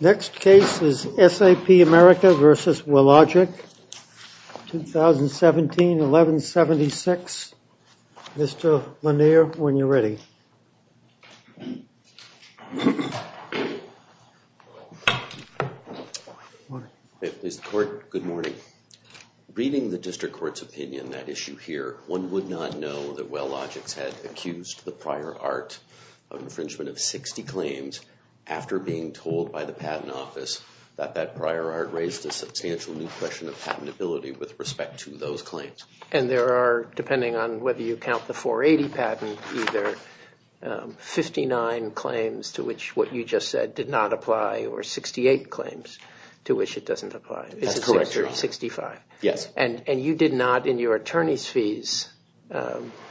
This is SAP America v. Wellogix, 2017-11-76. Mr. Lanier, when you're ready. Mr. Court, good morning. Reading the district court's opinion on that issue here, one would not know that Wellogix had accused the prior art of infringement of 60 claims after being told by the patent office that that prior art raised a substantial new question of patentability with respect to those claims. And there are, depending on whether you count the 480 patent, either 59 claims to which what you just said did not apply, or 68 claims to which it doesn't apply. That's correct, Your Honor. It's a 65. Yes. And you did not, in your attorney's fees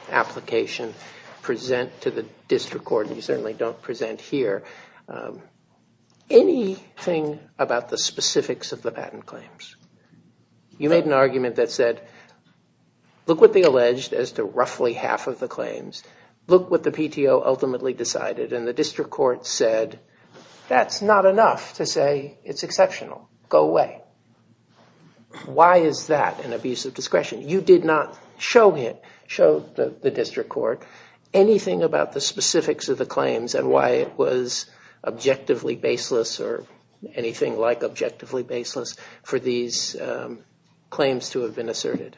application, present to the district court, and you certainly don't present here, anything about the specifics of the patent claims. You made an argument that said, look what they alleged as to roughly half of the claims. Look what the PTO ultimately decided. And the district court said, that's not enough to say it's exceptional. Go away. Why is that an abuse of discretion? You did not show it, show the district court, anything about the specifics of the claims and why it was objectively baseless, or anything like objectively baseless, for these claims to have been asserted.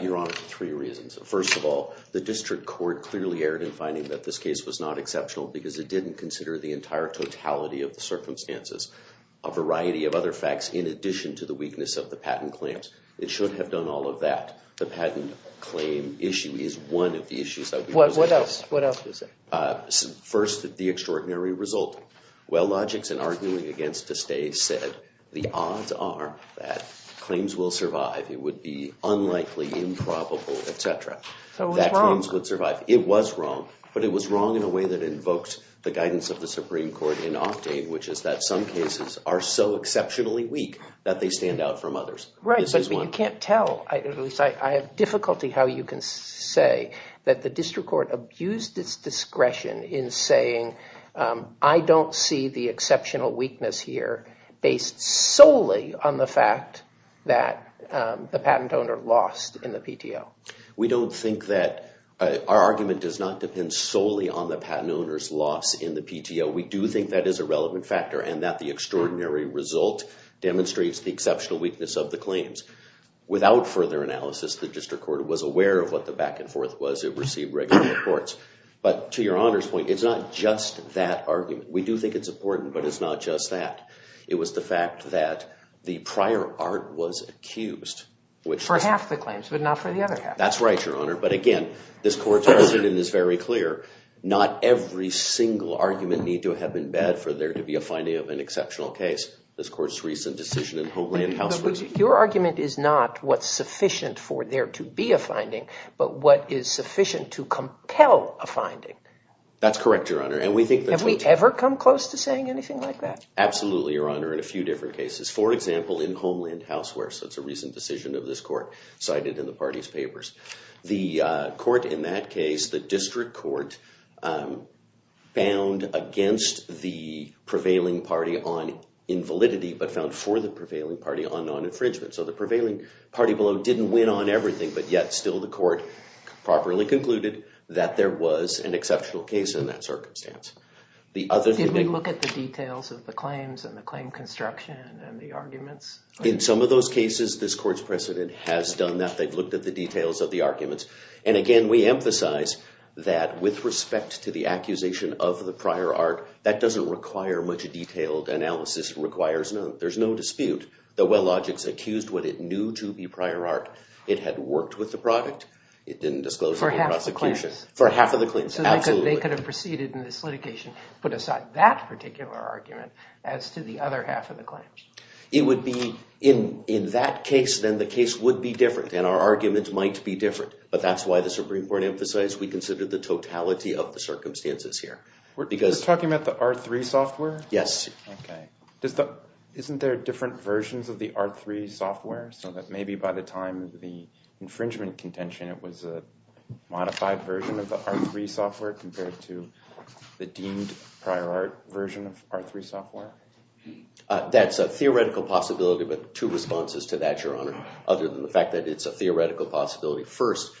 Your Honor, three reasons. First of all, the district court clearly erred in finding that this case was not exceptional, because it didn't consider the entire totality of the circumstances. A variety of other facts, in addition to the weakness of the patent claims. It should have done all of that. The patent claim issue is one of the issues. What else is there? First, the extraordinary result. WellLogix, in arguing against DeStay, said the odds are that claims will survive. It would be unlikely, improbable, et cetera. That claims would survive. It was wrong. But it was wrong in a way that invoked the guidance of the Supreme Court in Octane, which is that some cases are so exceptionally weak that they stand out from others. Right, but you can't tell, at least I have difficulty how you can say, that the district court abused its discretion in saying, I don't see the exceptional weakness here based solely on the fact that the patent owner lost in the PTO. We don't think that our argument does not depend solely on the patent owner's loss in the PTO. We do think that is a relevant factor and that the extraordinary result demonstrates the exceptional weakness of the claims. Without further analysis, the district court was aware of what the back and forth was. It received regular reports. But to Your Honor's point, it's not just that argument. We do think it's important, but it's not just that. It was the fact that the prior art was accused, which was. For half the claims, but not for the other half. That's right, Your Honor. But again, this court's precedent is very clear. Not every single argument need to have been bad for there to be a finding of an exceptional case. This court's recent decision in Homeland House was. Your argument is not what's sufficient for there to be a finding, but what is sufficient to compel a finding. That's correct, Your Honor. And we think that's what. Have we ever come close to saying anything like that? Absolutely, Your Honor, in a few different cases. For example, in Homeland House where, so it's a recent decision of this court, cited in the party's papers. The court in that case, the district court, bound against the prevailing party on invalidity, but found for the prevailing party on non-infringement. So the prevailing party below didn't win on everything, but yet still the court properly concluded that there was an exceptional case in that circumstance. The other thing. Did we look at the details of the claims and the claim construction and the arguments? In some of those cases, this court's precedent has done that. They've looked at the details of the arguments. And again, we emphasize that with respect to the accusation of the prior art, that doesn't require much detailed analysis. Requires none. There's no dispute. The Wellogics accused what it knew to be prior art. It had worked with the product. It didn't disclose it in the prosecution. For half of the claims. For half of the claims, absolutely. So they could have proceeded in this litigation, put aside that particular argument, as to the other half of the claims. It would be, in that case, then the case would be different. And our arguments might be different. But that's why the Supreme Court emphasized we considered the totality of the circumstances here. We're talking about the R3 software? Yes. OK. Isn't there different versions of the R3 software? So that maybe by the time of the infringement contention, it was a modified version of the R3 software compared to the deemed prior art version of R3 software? That's a theoretical possibility. But two responses to that, Your Honor. Other than the fact that it's a theoretical possibility. First,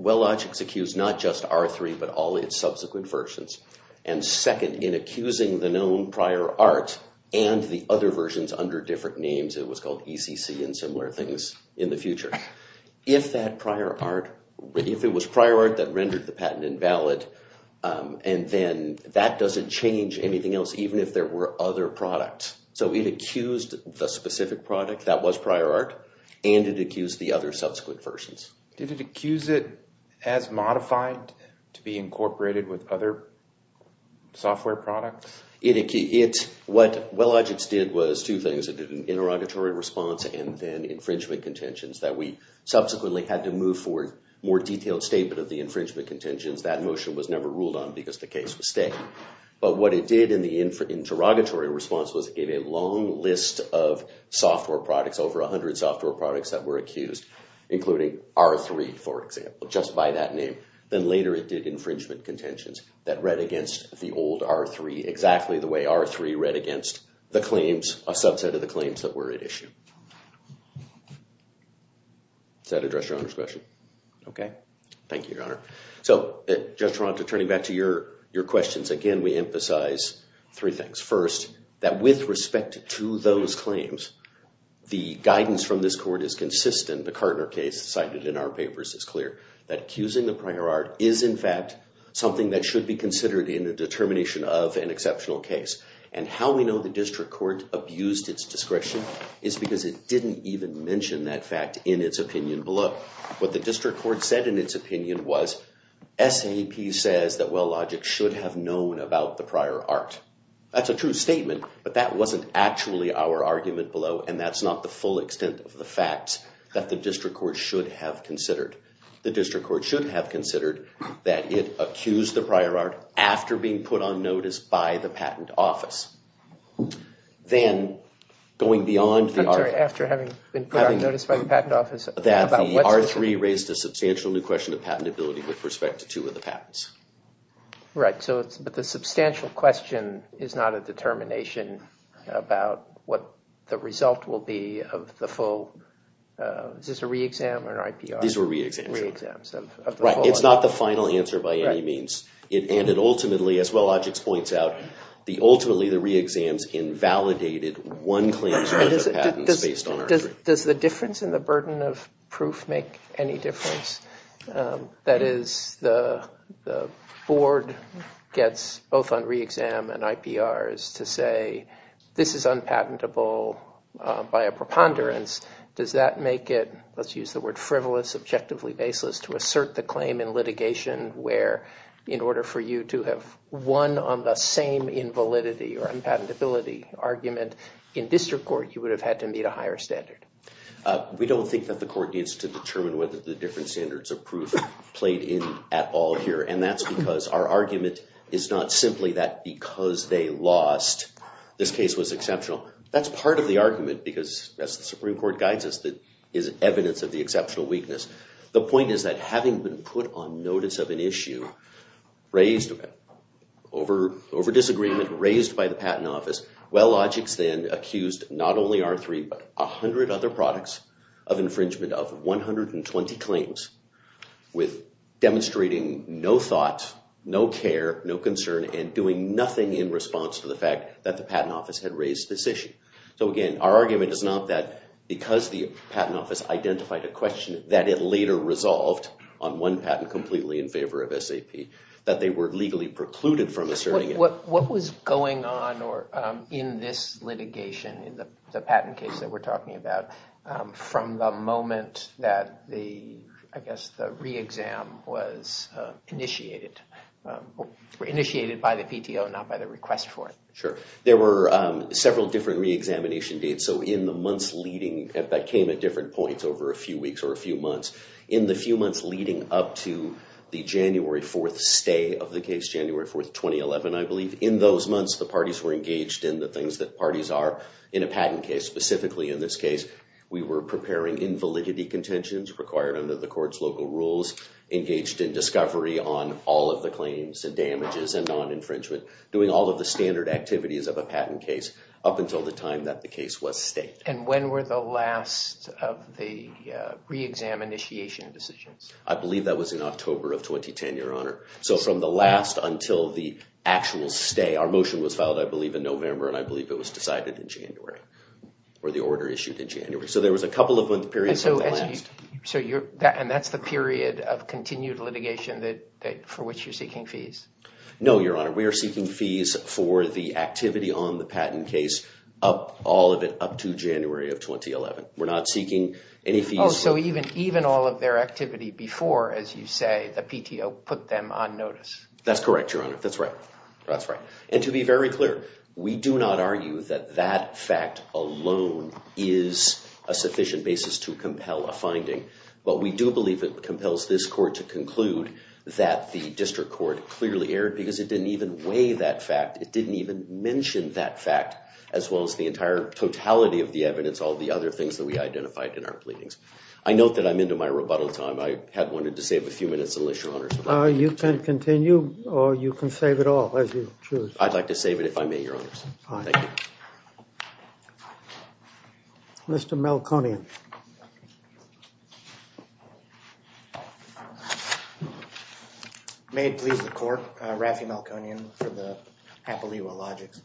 Wellogics accused not just R3, but all its subsequent versions. And second, in accusing the known prior art and the other versions under different names, it was called ECC and similar things in the future. If that prior art, if it was prior art that rendered the patent invalid, and then that doesn't change anything else, even if there were other products. So it accused the specific product that was prior art. And it accused the other subsequent versions. Did it accuse it as modified to be software products? What Wellogics did was two things. It did an interrogatory response and then infringement contentions that we subsequently had to move forward more detailed statement of the infringement contentions. That motion was never ruled on because the case was stated. But what it did in the interrogatory response was it gave a long list of software products, over 100 software products that were accused, including R3, for example, just by that name. Then later it did infringement contentions that read against the old R3, exactly the way R3 read against the claims, a subset of the claims that were at issue. Does that address your Honor's question? OK. Thank you, Your Honor. So Judge Taranto, turning back to your questions, again, we emphasize three things. First, that with respect to those claims, the guidance from this court is consistent. The Kartner case cited in our papers is clear that accusing the prior art is, in fact, something that should be considered in the determination of an exceptional case. And how we know the district court abused its discretion is because it didn't even mention that fact in its opinion below. What the district court said in its opinion was SAP says that Wellogic should have known about the prior art. That's a true statement. But that wasn't actually our argument below. And that's not the full extent of the facts that the district court should have considered. The district court should have considered that it accused the prior art after being put on notice by the patent office. Then, going beyond the art, that the R3 raised a substantial new question of patentability with respect to two of the patents. Right, but the substantial question is not a determination about what the result will be of the full. Is this a re-exam or an IPR? These were re-exams. Re-exams of the whole. Right, it's not the final answer by any means. And it ultimately, as Wellogic points out, the ultimately the re-exams invalidated one claims worth of patents based on R3. Does the difference in the burden of proof make any difference? That is, the board gets both on re-exam and IPRs to say, this is unpatentable by a preponderance. Does that make it, let's use the word frivolous subjectively baseless, to assert the claim in litigation where, in order for you to have won on the same invalidity or unpatentability argument in district court, you would have had to meet a higher standard? We don't think that the court needs to determine whether the different standards of proof played in at all here. And that's because our argument is not simply that because they lost, this case was exceptional. That's part of the argument, because as the Supreme Court guides us, that is evidence of the exceptional weakness. The point is that having been put on notice of an issue raised over disagreement, raised by the Patent Office, Wellogic then accused not only R3, but 100 other products of infringement of 120 claims with demonstrating no thought, no care, no concern, and doing nothing in response to the fact that the Patent Office had raised this issue. So again, our argument is not that because the Patent Office identified a question that it later resolved on one patent completely in favor of SAP, that they were legally precluded from asserting it. What was going on in this litigation, in the patent case that we're talking about, from the moment that the re-exam was initiated? Initiated by the PTO, not by the request for it. Sure. There were several different re-examination dates. So in the months leading, that came at different points over a few weeks or a few months. In the few months leading up to the January 4th stay of the case, January 4th, 2011, I believe, in those months, the parties were engaged in the things that parties are in a patent case. Specifically in this case, we were preparing invalidity contentions required under the court's local rules, engaged in discovery on all of the claims and damages and non-infringement, doing all of the standard activities of a patent case up until the time that the case was staked. And when were the last of the re-exam initiation decisions? I believe that was in October of 2010, Your Honor. So from the last until the actual stay. Our motion was filed, I believe, in November. And I believe it was decided in January, or the order issued in January. So there was a couple of month periods on the last. And that's the period of continued litigation for which you're seeking fees? No, Your Honor. We are seeking fees for the activity on the patent case, all of it up to January of 2011. We're not seeking any fees. Oh, so even all of their activity before, as you say, the PTO put them on notice? That's correct, Your Honor. That's right. That's right. And to be very clear, we do not argue that that fact alone is a sufficient basis to compel a finding. But we do believe it compels this court to conclude that the district court clearly erred, because it didn't even weigh that fact. It didn't even mention that fact, as well as the entire totality of the evidence, all the other things that we identified in our pleadings. I note that I'm into my rebuttal time. I had wanted to save a few minutes, unless Your Honor's agreed. You can continue, or you can save it all, as you choose. I'd like to save it, if I may, Your Honors. Thank you. Mr. Melconian. Thank you. May it please the court. Rafi Melconian for the Happily Well Logics.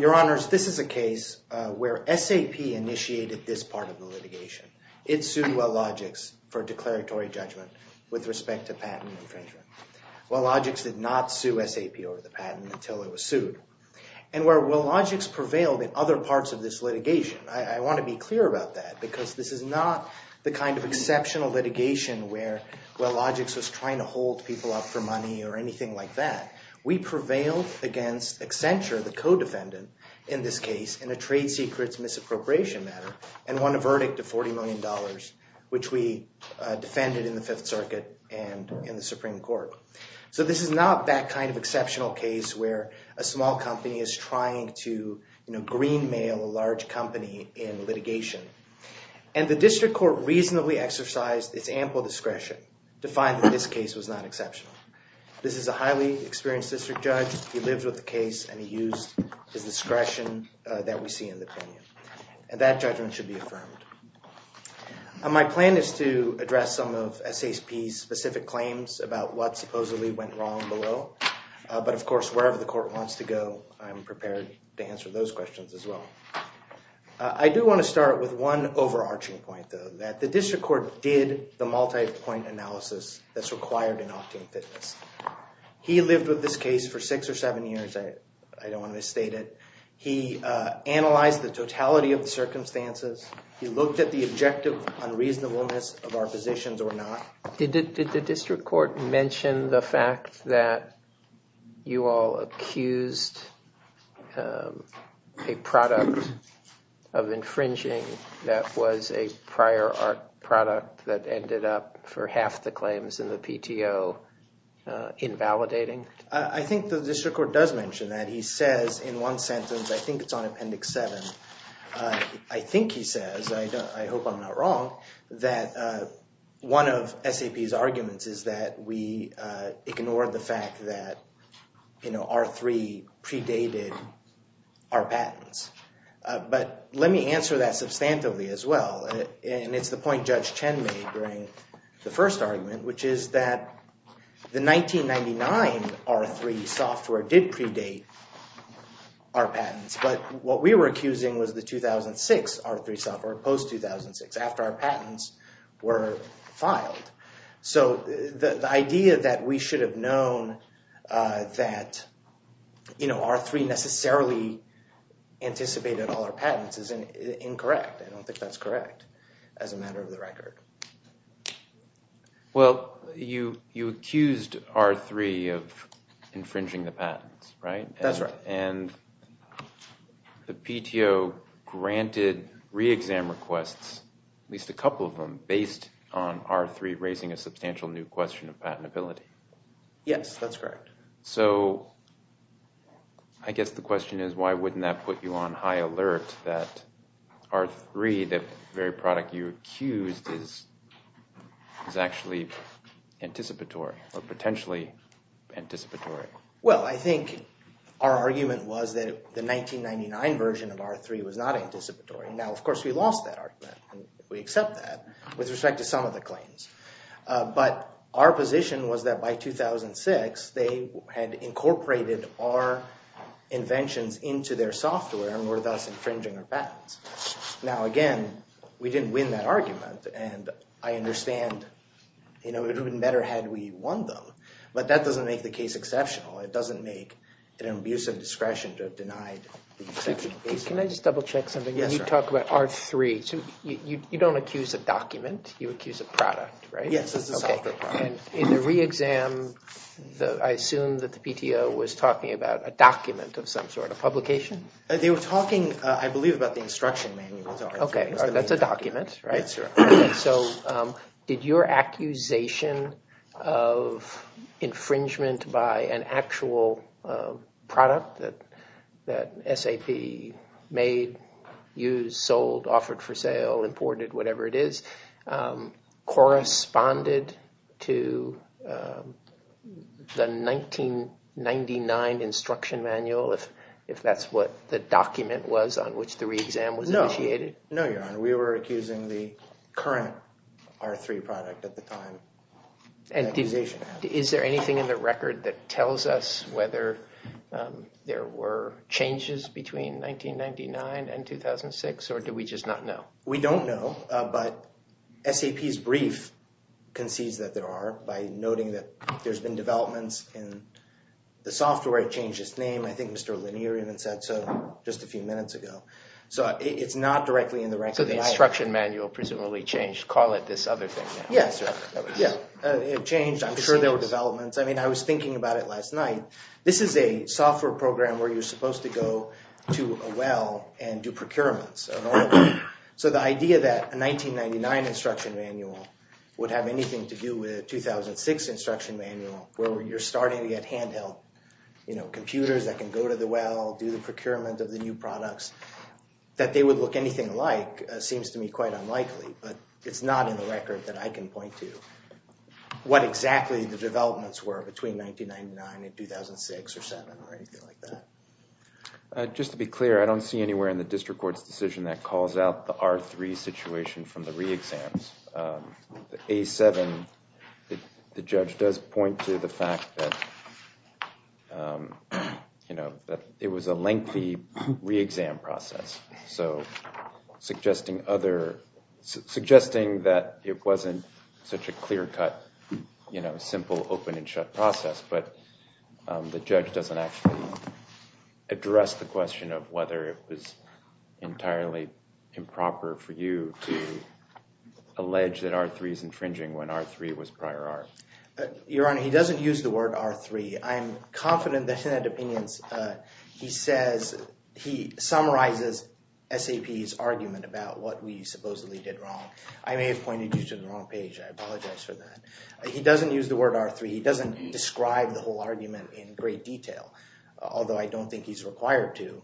Your Honors, this is a case where SAP initiated this part of the litigation. It sued Well Logics for declaratory judgment with respect to patent infringement. Well Logics did not sue SAP over the patent until it was sued. And where Well Logics prevailed in other parts of this litigation, I want to be clear about that, because this is not the kind of exceptional litigation where Well Logics was trying to hold people up for money or anything like that. We prevailed against Accenture, the co-defendant in this case, in a trade secrets misappropriation matter, and won a verdict of $40 million, which we defended in the Fifth Circuit and in the Supreme Court. So this is not that kind of exceptional case where a small company is trying to green a large company in litigation. And the district court reasonably exercised its ample discretion to find that this case was not exceptional. This is a highly experienced district judge. He lived with the case, and he used his discretion that we see in the opinion. And that judgment should be affirmed. My plan is to address some of SAP's specific claims about what supposedly went wrong below. But of course, wherever the court wants to go, I'm prepared to answer those questions as well. I do want to start with one overarching point, though, that the district court did the multi-point analysis that's required in opting fitness. He lived with this case for six or seven years. I don't want to misstate it. He analyzed the totality of the circumstances. He looked at the objective unreasonableness of our positions or not. Did the district court mention the fact that you all accused a product of infringing that was a prior art product that ended up for half the claims in the PTO invalidating? I think the district court does mention that. He says in one sentence, I think it's on Appendix 7, I think he says, I hope I'm not wrong, that one of SAP's arguments is that we ignored the fact that R3 predated our patents. But let me answer that substantively as well. And it's the point Judge Chen made during the first argument, which is that the 1999 R3 software did predate our patents. But what we were accusing was the 2006 R3 software, post-2006. After our patents were filed. So the idea that we should have known that R3 necessarily anticipated all our patents is incorrect. I don't think that's correct as a matter of the record. Well, you accused R3 of infringing the patents, right? That's right. And the PTO granted re-exam requests, at least a couple of them, based on R3 raising a substantial new question of patentability. Yes, that's correct. So I guess the question is, why wouldn't that put you on high alert that R3, the very product you accused, is actually anticipatory, or potentially anticipatory? Well, I think our argument was that the 1999 version of R3 was not anticipatory. Now, of course, we lost that argument. We accept that with respect to some of the claims. But our position was that by 2006, they had incorporated our inventions into their software and were thus infringing our patents. Now, again, we didn't win that argument. And I understand it wouldn't have been better had we won them. But that doesn't make the case exceptional. It doesn't make it an abuse of discretion to have denied the exception. Can I just double check something? Yes, sir. When you talk about R3, you don't accuse a document. You accuse a product, right? Yes, it's a software product. In the re-exam, I assume that the PTO was talking about a document of some sort, a publication? They were talking, I believe, about the instruction manual. OK, that's a document, right? That's right. So did your accusation of infringement by an actual product that SAP made, used, sold, offered for sale, imported, whatever it is, corresponded to the 1999 instruction manual, if that's what the document was on which the re-exam was initiated? No, Your Honor. We were accusing the current R3 product at the time. And is there anything in the record that tells us whether there were changes between 1999 and 2006, or do we just not know? We don't know, but SAP's brief concedes that there are by noting that there's been developments in the software. It changed its name. I think Mr. Lanier even said so just a few minutes ago. So it's not directly in the record. So the instruction manual presumably changed. Call it this other thing now. Yes, sir. Yeah, it changed. I'm sure there were developments. I mean, I was thinking about it last night. This is a software program where you're supposed to go to a well and do procurements. So the idea that a 1999 instruction manual would have anything to do with a 2006 instruction manual, where you're starting to get handheld computers that can go to the well, do the procurement of the new products, that they would look anything alike seems to me quite unlikely. But it's not in the record that I can point to what exactly the developments were between 1999 and 2006 or 2007 or anything like that. Just to be clear, I don't see anywhere in the district court's decision that calls out the R3 situation from the re-exams. The A7, the judge does point to the fact that it was a lengthy re-exam process, so suggesting that it wasn't such a clear-cut, simple, open-and-shut process. But the judge doesn't actually address the question of whether it was entirely improper for you to allege that R3 is infringing when R3 was prior art. Your Honor, he doesn't use the word R3. I'm confident that in that opinion, he summarizes SAP's argument about what we supposedly did wrong. I may have pointed you to the wrong page. I apologize for that. He doesn't use the word R3. He doesn't describe the whole argument in great detail, although I don't think he's required to.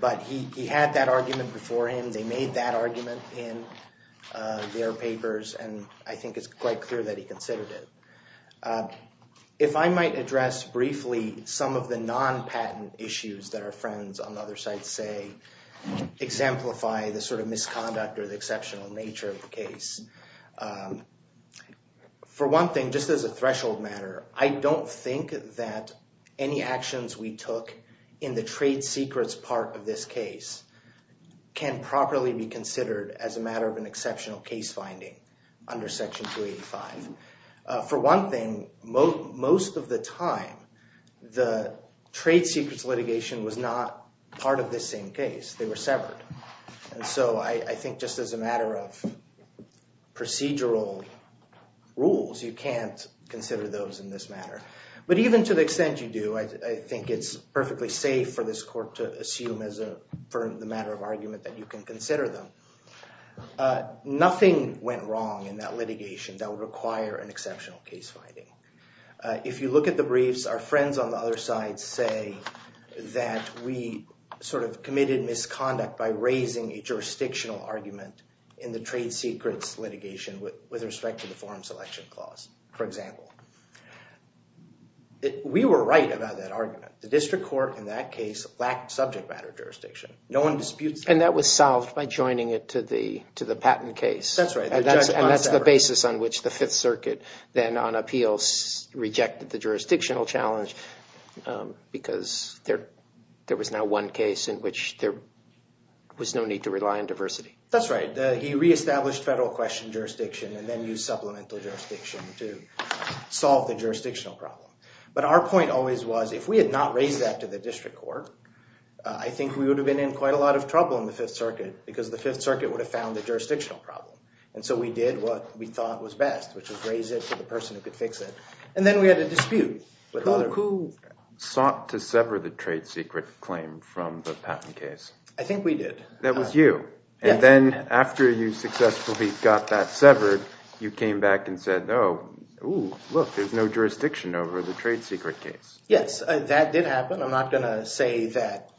But he had that argument before him. They made that argument in their papers. And I think it's quite clear that he considered it. If I might address briefly some of the non-patent issues that our friends on other sites say exemplify the sort of misconduct or the exceptional nature of the case, for one thing, just as a threshold matter, I don't think that any actions we took in the trade secrets part of this case can properly be considered as a matter of an exceptional case finding under Section 285. For one thing, most of the time, the trade secrets litigation was not part of this same case. They were severed. And so I think just as a matter of procedural rules, you can't consider those in this matter. But even to the extent you do, I think it's perfectly safe for this court to assume as a matter of argument that you can consider them. Nothing went wrong in that litigation that would require an exceptional case finding. If you look at the briefs, our friends on the other side say that we sort of committed misconduct by raising a jurisdictional argument in the trade secrets litigation with respect to the forum selection clause, for example. We were right about that argument. The district court in that case lacked subject matter jurisdiction. No one disputes that. And that was solved by joining it to the patent case. That's right. And that's the basis on which the Fifth Circuit then on appeals rejected the jurisdictional challenge because there was now one case in which there was no need to rely on diversity. That's right. He re-established federal question jurisdiction and then used supplemental jurisdiction to solve the jurisdictional problem. But our point always was, if we had not raised that to the district court, I think we would have been in quite a lot of trouble in the Fifth Circuit because the Fifth Circuit would have found the jurisdictional problem. And so we did what we thought was best, which was raise it to the person who could fix it. And then we had a dispute with other people. Who sought to sever the trade secret claim from the patent case? I think we did. That was you. And then after you successfully got that severed, you came back and said, oh, look, there's no jurisdiction over the trade secret case. Yes, that did happen. I'm not going to say that.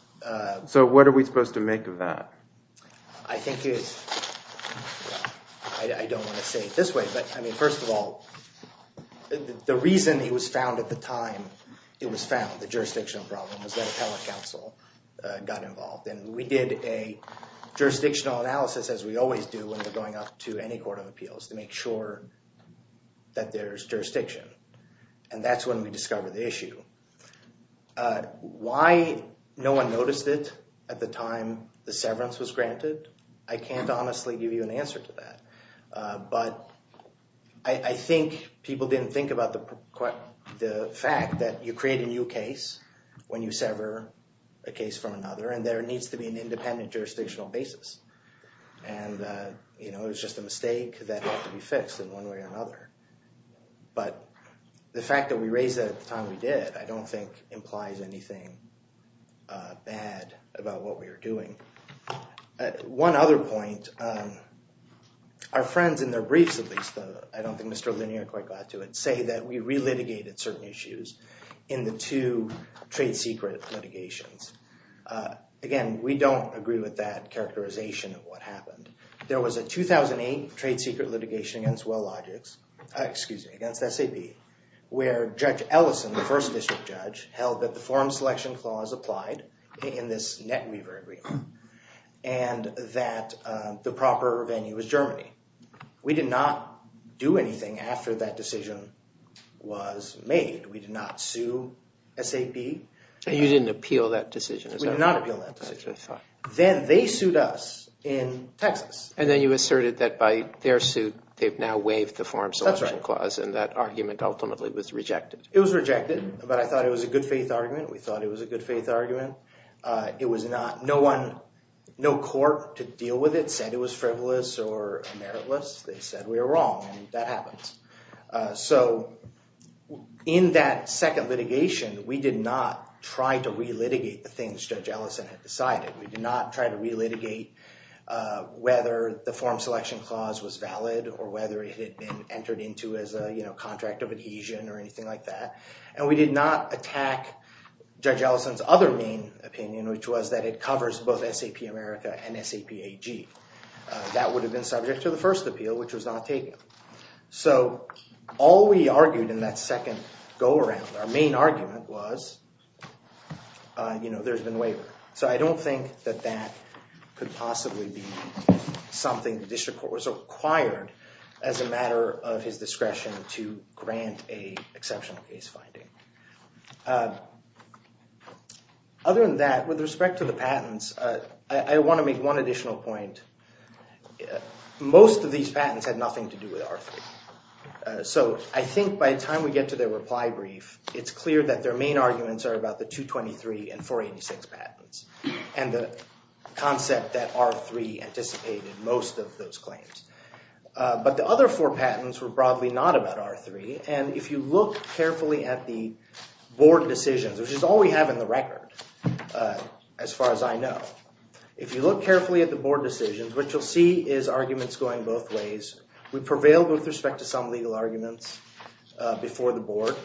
So what are we supposed to make of that? I think it's, I don't want to say it this way, but I mean, first of all, the reason it was found at the time it was found, the jurisdictional problem, was that appellate counsel got involved. And we did a jurisdictional analysis, as we always do when we're going up to any court of appeals, to make sure that there's jurisdiction. And that's when we discovered the issue. Why no one noticed it at the time the severance was granted, I can't honestly give you an answer to that. But I think people didn't think about the fact that you create a new case when you sever a case from another, and there needs to be an independent jurisdictional basis. And it was just a mistake that had to be fixed in one way or another. But the fact that we raised it at the time we did, I don't think implies anything bad about what we were doing. One other point, our friends in their briefs, at least, I don't think Mr. Linnier quite got to it, say that we re-litigated certain issues in the two trade secret litigations. Again, we don't agree with that characterization of what happened. There was a 2008 trade secret litigation against Wellogix, excuse me, against SAP, where Judge Ellison, the first district judge, held that the forum selection clause applied in this NetWeaver agreement, and that the proper venue was Germany. We did not do anything after that decision was made. We did not sue SAP. You didn't appeal that decision, is that right? We did not appeal that decision. Then they sued us in Texas. And then you asserted that by their suit, they've now waived the forum selection clause, and that argument ultimately was rejected. It was rejected, but I thought it was a good faith argument. We thought it was a good faith argument. It was not. No court to deal with it said it was frivolous or meritless. They said we were wrong, and that happens. So in that second litigation, we did not try to re-litigate the things Judge Ellison had decided. We did not try to re-litigate whether the forum selection clause was valid or whether it had been entered into as a contract of adhesion or anything like that. And we did not attack Judge Ellison's other main opinion, which was that it covers both SAP America and SAP AG. That would have been subject to the first appeal, which was not taken. So all we argued in that second go around, our main argument was there's been waiver. So I don't think that that could possibly be something the district court was required as a matter of his discretion to grant a exceptional case finding. Other than that, with respect to the patents, I want to make one additional point. Most of these patents had nothing to do with R3. So I think by the time we get to their reply brief, it's clear that their main arguments are about the 223 and 486 patents and the concept that R3 anticipated most of those claims. But the other four patents were broadly not about R3. And if you look carefully at the board decisions, which is all we have in the record, as far as I know, if you look carefully at the board decisions, what you'll see is arguments going both ways. We prevailed with respect to some legal arguments before the board.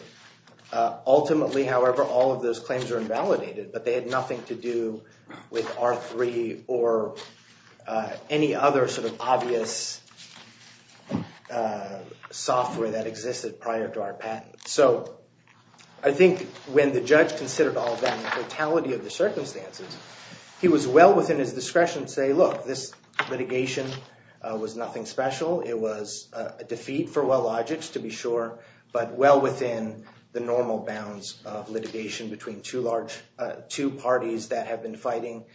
Ultimately, however, all of those claims are invalidated. But they had nothing to do with R3 or any other sort of obvious software that existed prior to our patent. So I think when the judge considered all of that and the totality of the circumstances, he was well within his discretion to say, look, this litigation was nothing special. It was a defeat for Wellogic, to be sure, but well within the normal bounds of litigation between two parties that have been fighting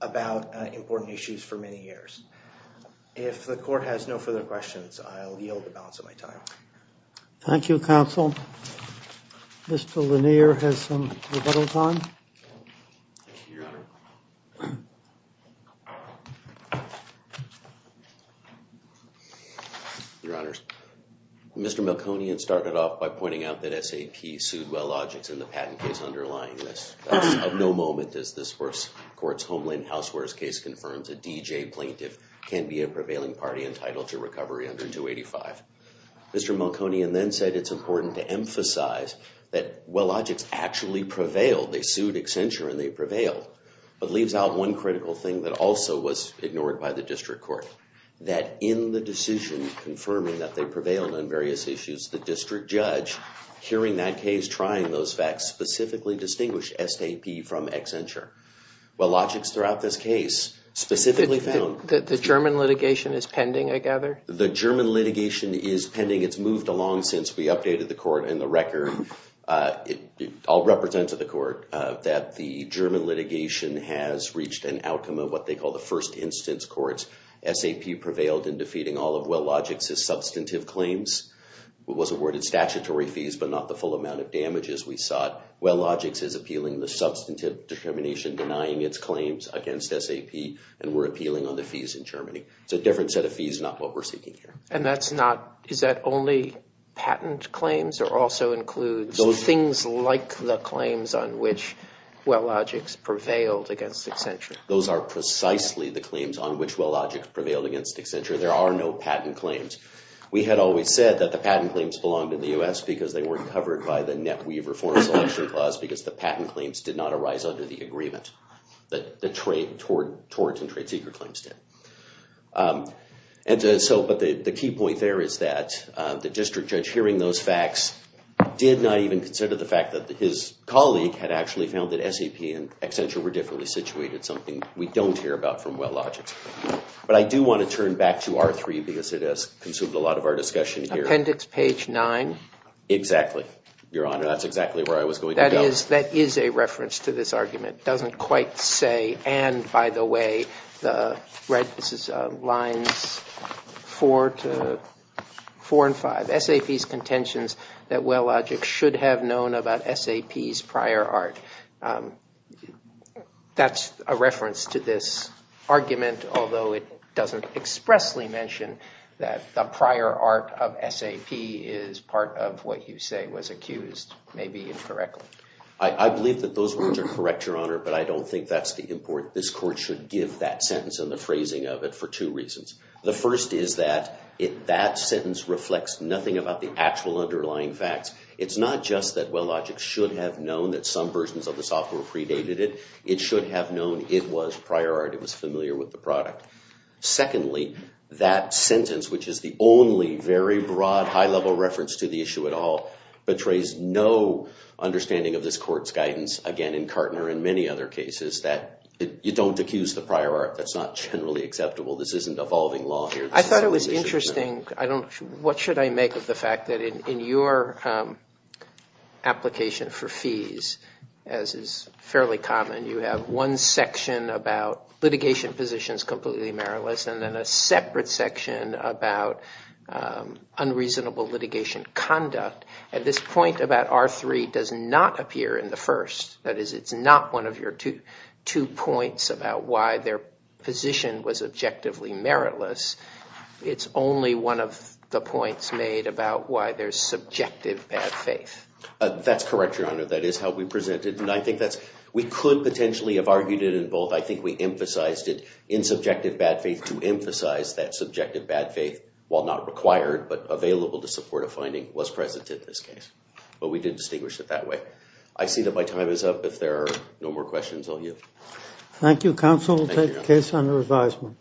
about important issues for many years. If the court has no further questions, I'll yield the balance of my time. Thank you, counsel. Mr. Lanier has some rebuttals on. Thank you, Your Honor. Your Honors, Mr. Melkonian started off by pointing out that SAP sued Wellogic in the patent case underlying this. Of no moment does this court's Homeland Housewares case confirms a DJ plaintiff can be a prevailing party entitled to recovery under 285. Mr. Melkonian then said it's important to emphasize that Wellogic actually prevailed. They sued Accenture, and they prevailed. But leaves out one critical thing that also was ignored by the district court, that in the decision confirming that they prevailed on various issues, the district judge, hearing that case, trying those facts, specifically distinguished SAP from Accenture. Wellogic's throughout this case specifically found. The German litigation is pending, I gather? The German litigation is pending. It's moved along since we updated the court and the record. I'll represent to the court that the German litigation has reached an outcome of what they call the first instance courts. SAP prevailed in defeating all of Wellogic's substantive claims, was awarded statutory fees, but not the full amount of damages we sought. Wellogic's is appealing the substantive determination, denying its claims against SAP, and we're appealing on the fees in Germany. It's a different set of fees, not what we're seeking here. And that's not, is that only patent claims, or also includes things like the claims on which Wellogic's prevailed against Accenture? Those are precisely the claims on which Wellogic's prevailed against Accenture. There are no patent claims. We had always said that the patent claims belonged in the U.S. because they weren't covered by the Net Weaver Foreign Selection Clause because the patent claims did not arise under the agreement that the tort and trade seeker claims did. And so, but the key point there is that the district judge hearing those facts did not even consider the fact that his colleague had actually found that SAP and Accenture were differently situated, something we don't hear about from Wellogic's. But I do want to turn back to R3 because it has consumed a lot of our discussion here. Appendix page nine. Exactly, Your Honor. That's exactly where I was going to go. That is a reference to this argument. Doesn't quite say, and by the way, the right, this is lines four to four and five. SAP's contentions that Wellogic should have known about SAP's prior art. That's a reference to this argument, although it doesn't expressly mention that the prior art of SAP is part of what you say was accused, maybe incorrectly. I believe that those words are correct, Your Honor, but I don't think that's the important, this court should give that sentence and the phrasing of it for two reasons. The first is that that sentence reflects nothing about the actual underlying facts. It's not just that Wellogic should have known that some versions of the software predated it. It should have known it was prior art, it was familiar with the product. Secondly, that sentence, which is the only very broad, high-level reference to the issue at all, betrays no understanding of this court's guidance. Again, in Kartner and many other cases, you don't accuse the prior art. That's not generally acceptable. This isn't evolving law here. I thought it was interesting, what should I make of the fact that in your application for fees, as is fairly common, you have one section about litigation positions completely meriless and then a separate section about unreasonable litigation conduct. At this point, about R3 does not appear in the first. That is, it's not one of your two points about why their position was objectively meritless. It's only one of the points made about why there's subjective bad faith. That's correct, Your Honor. That is how we present it, and I think that's, we could potentially have argued it in both. I think we emphasized it in subjective bad faith to emphasize that subjective bad faith, while not required but available to support a finding, was present in this case. But we did distinguish it that way. I see that my time is up. If there are no more questions, I'll yield. Thank you, counsel. We'll take the case under advisement.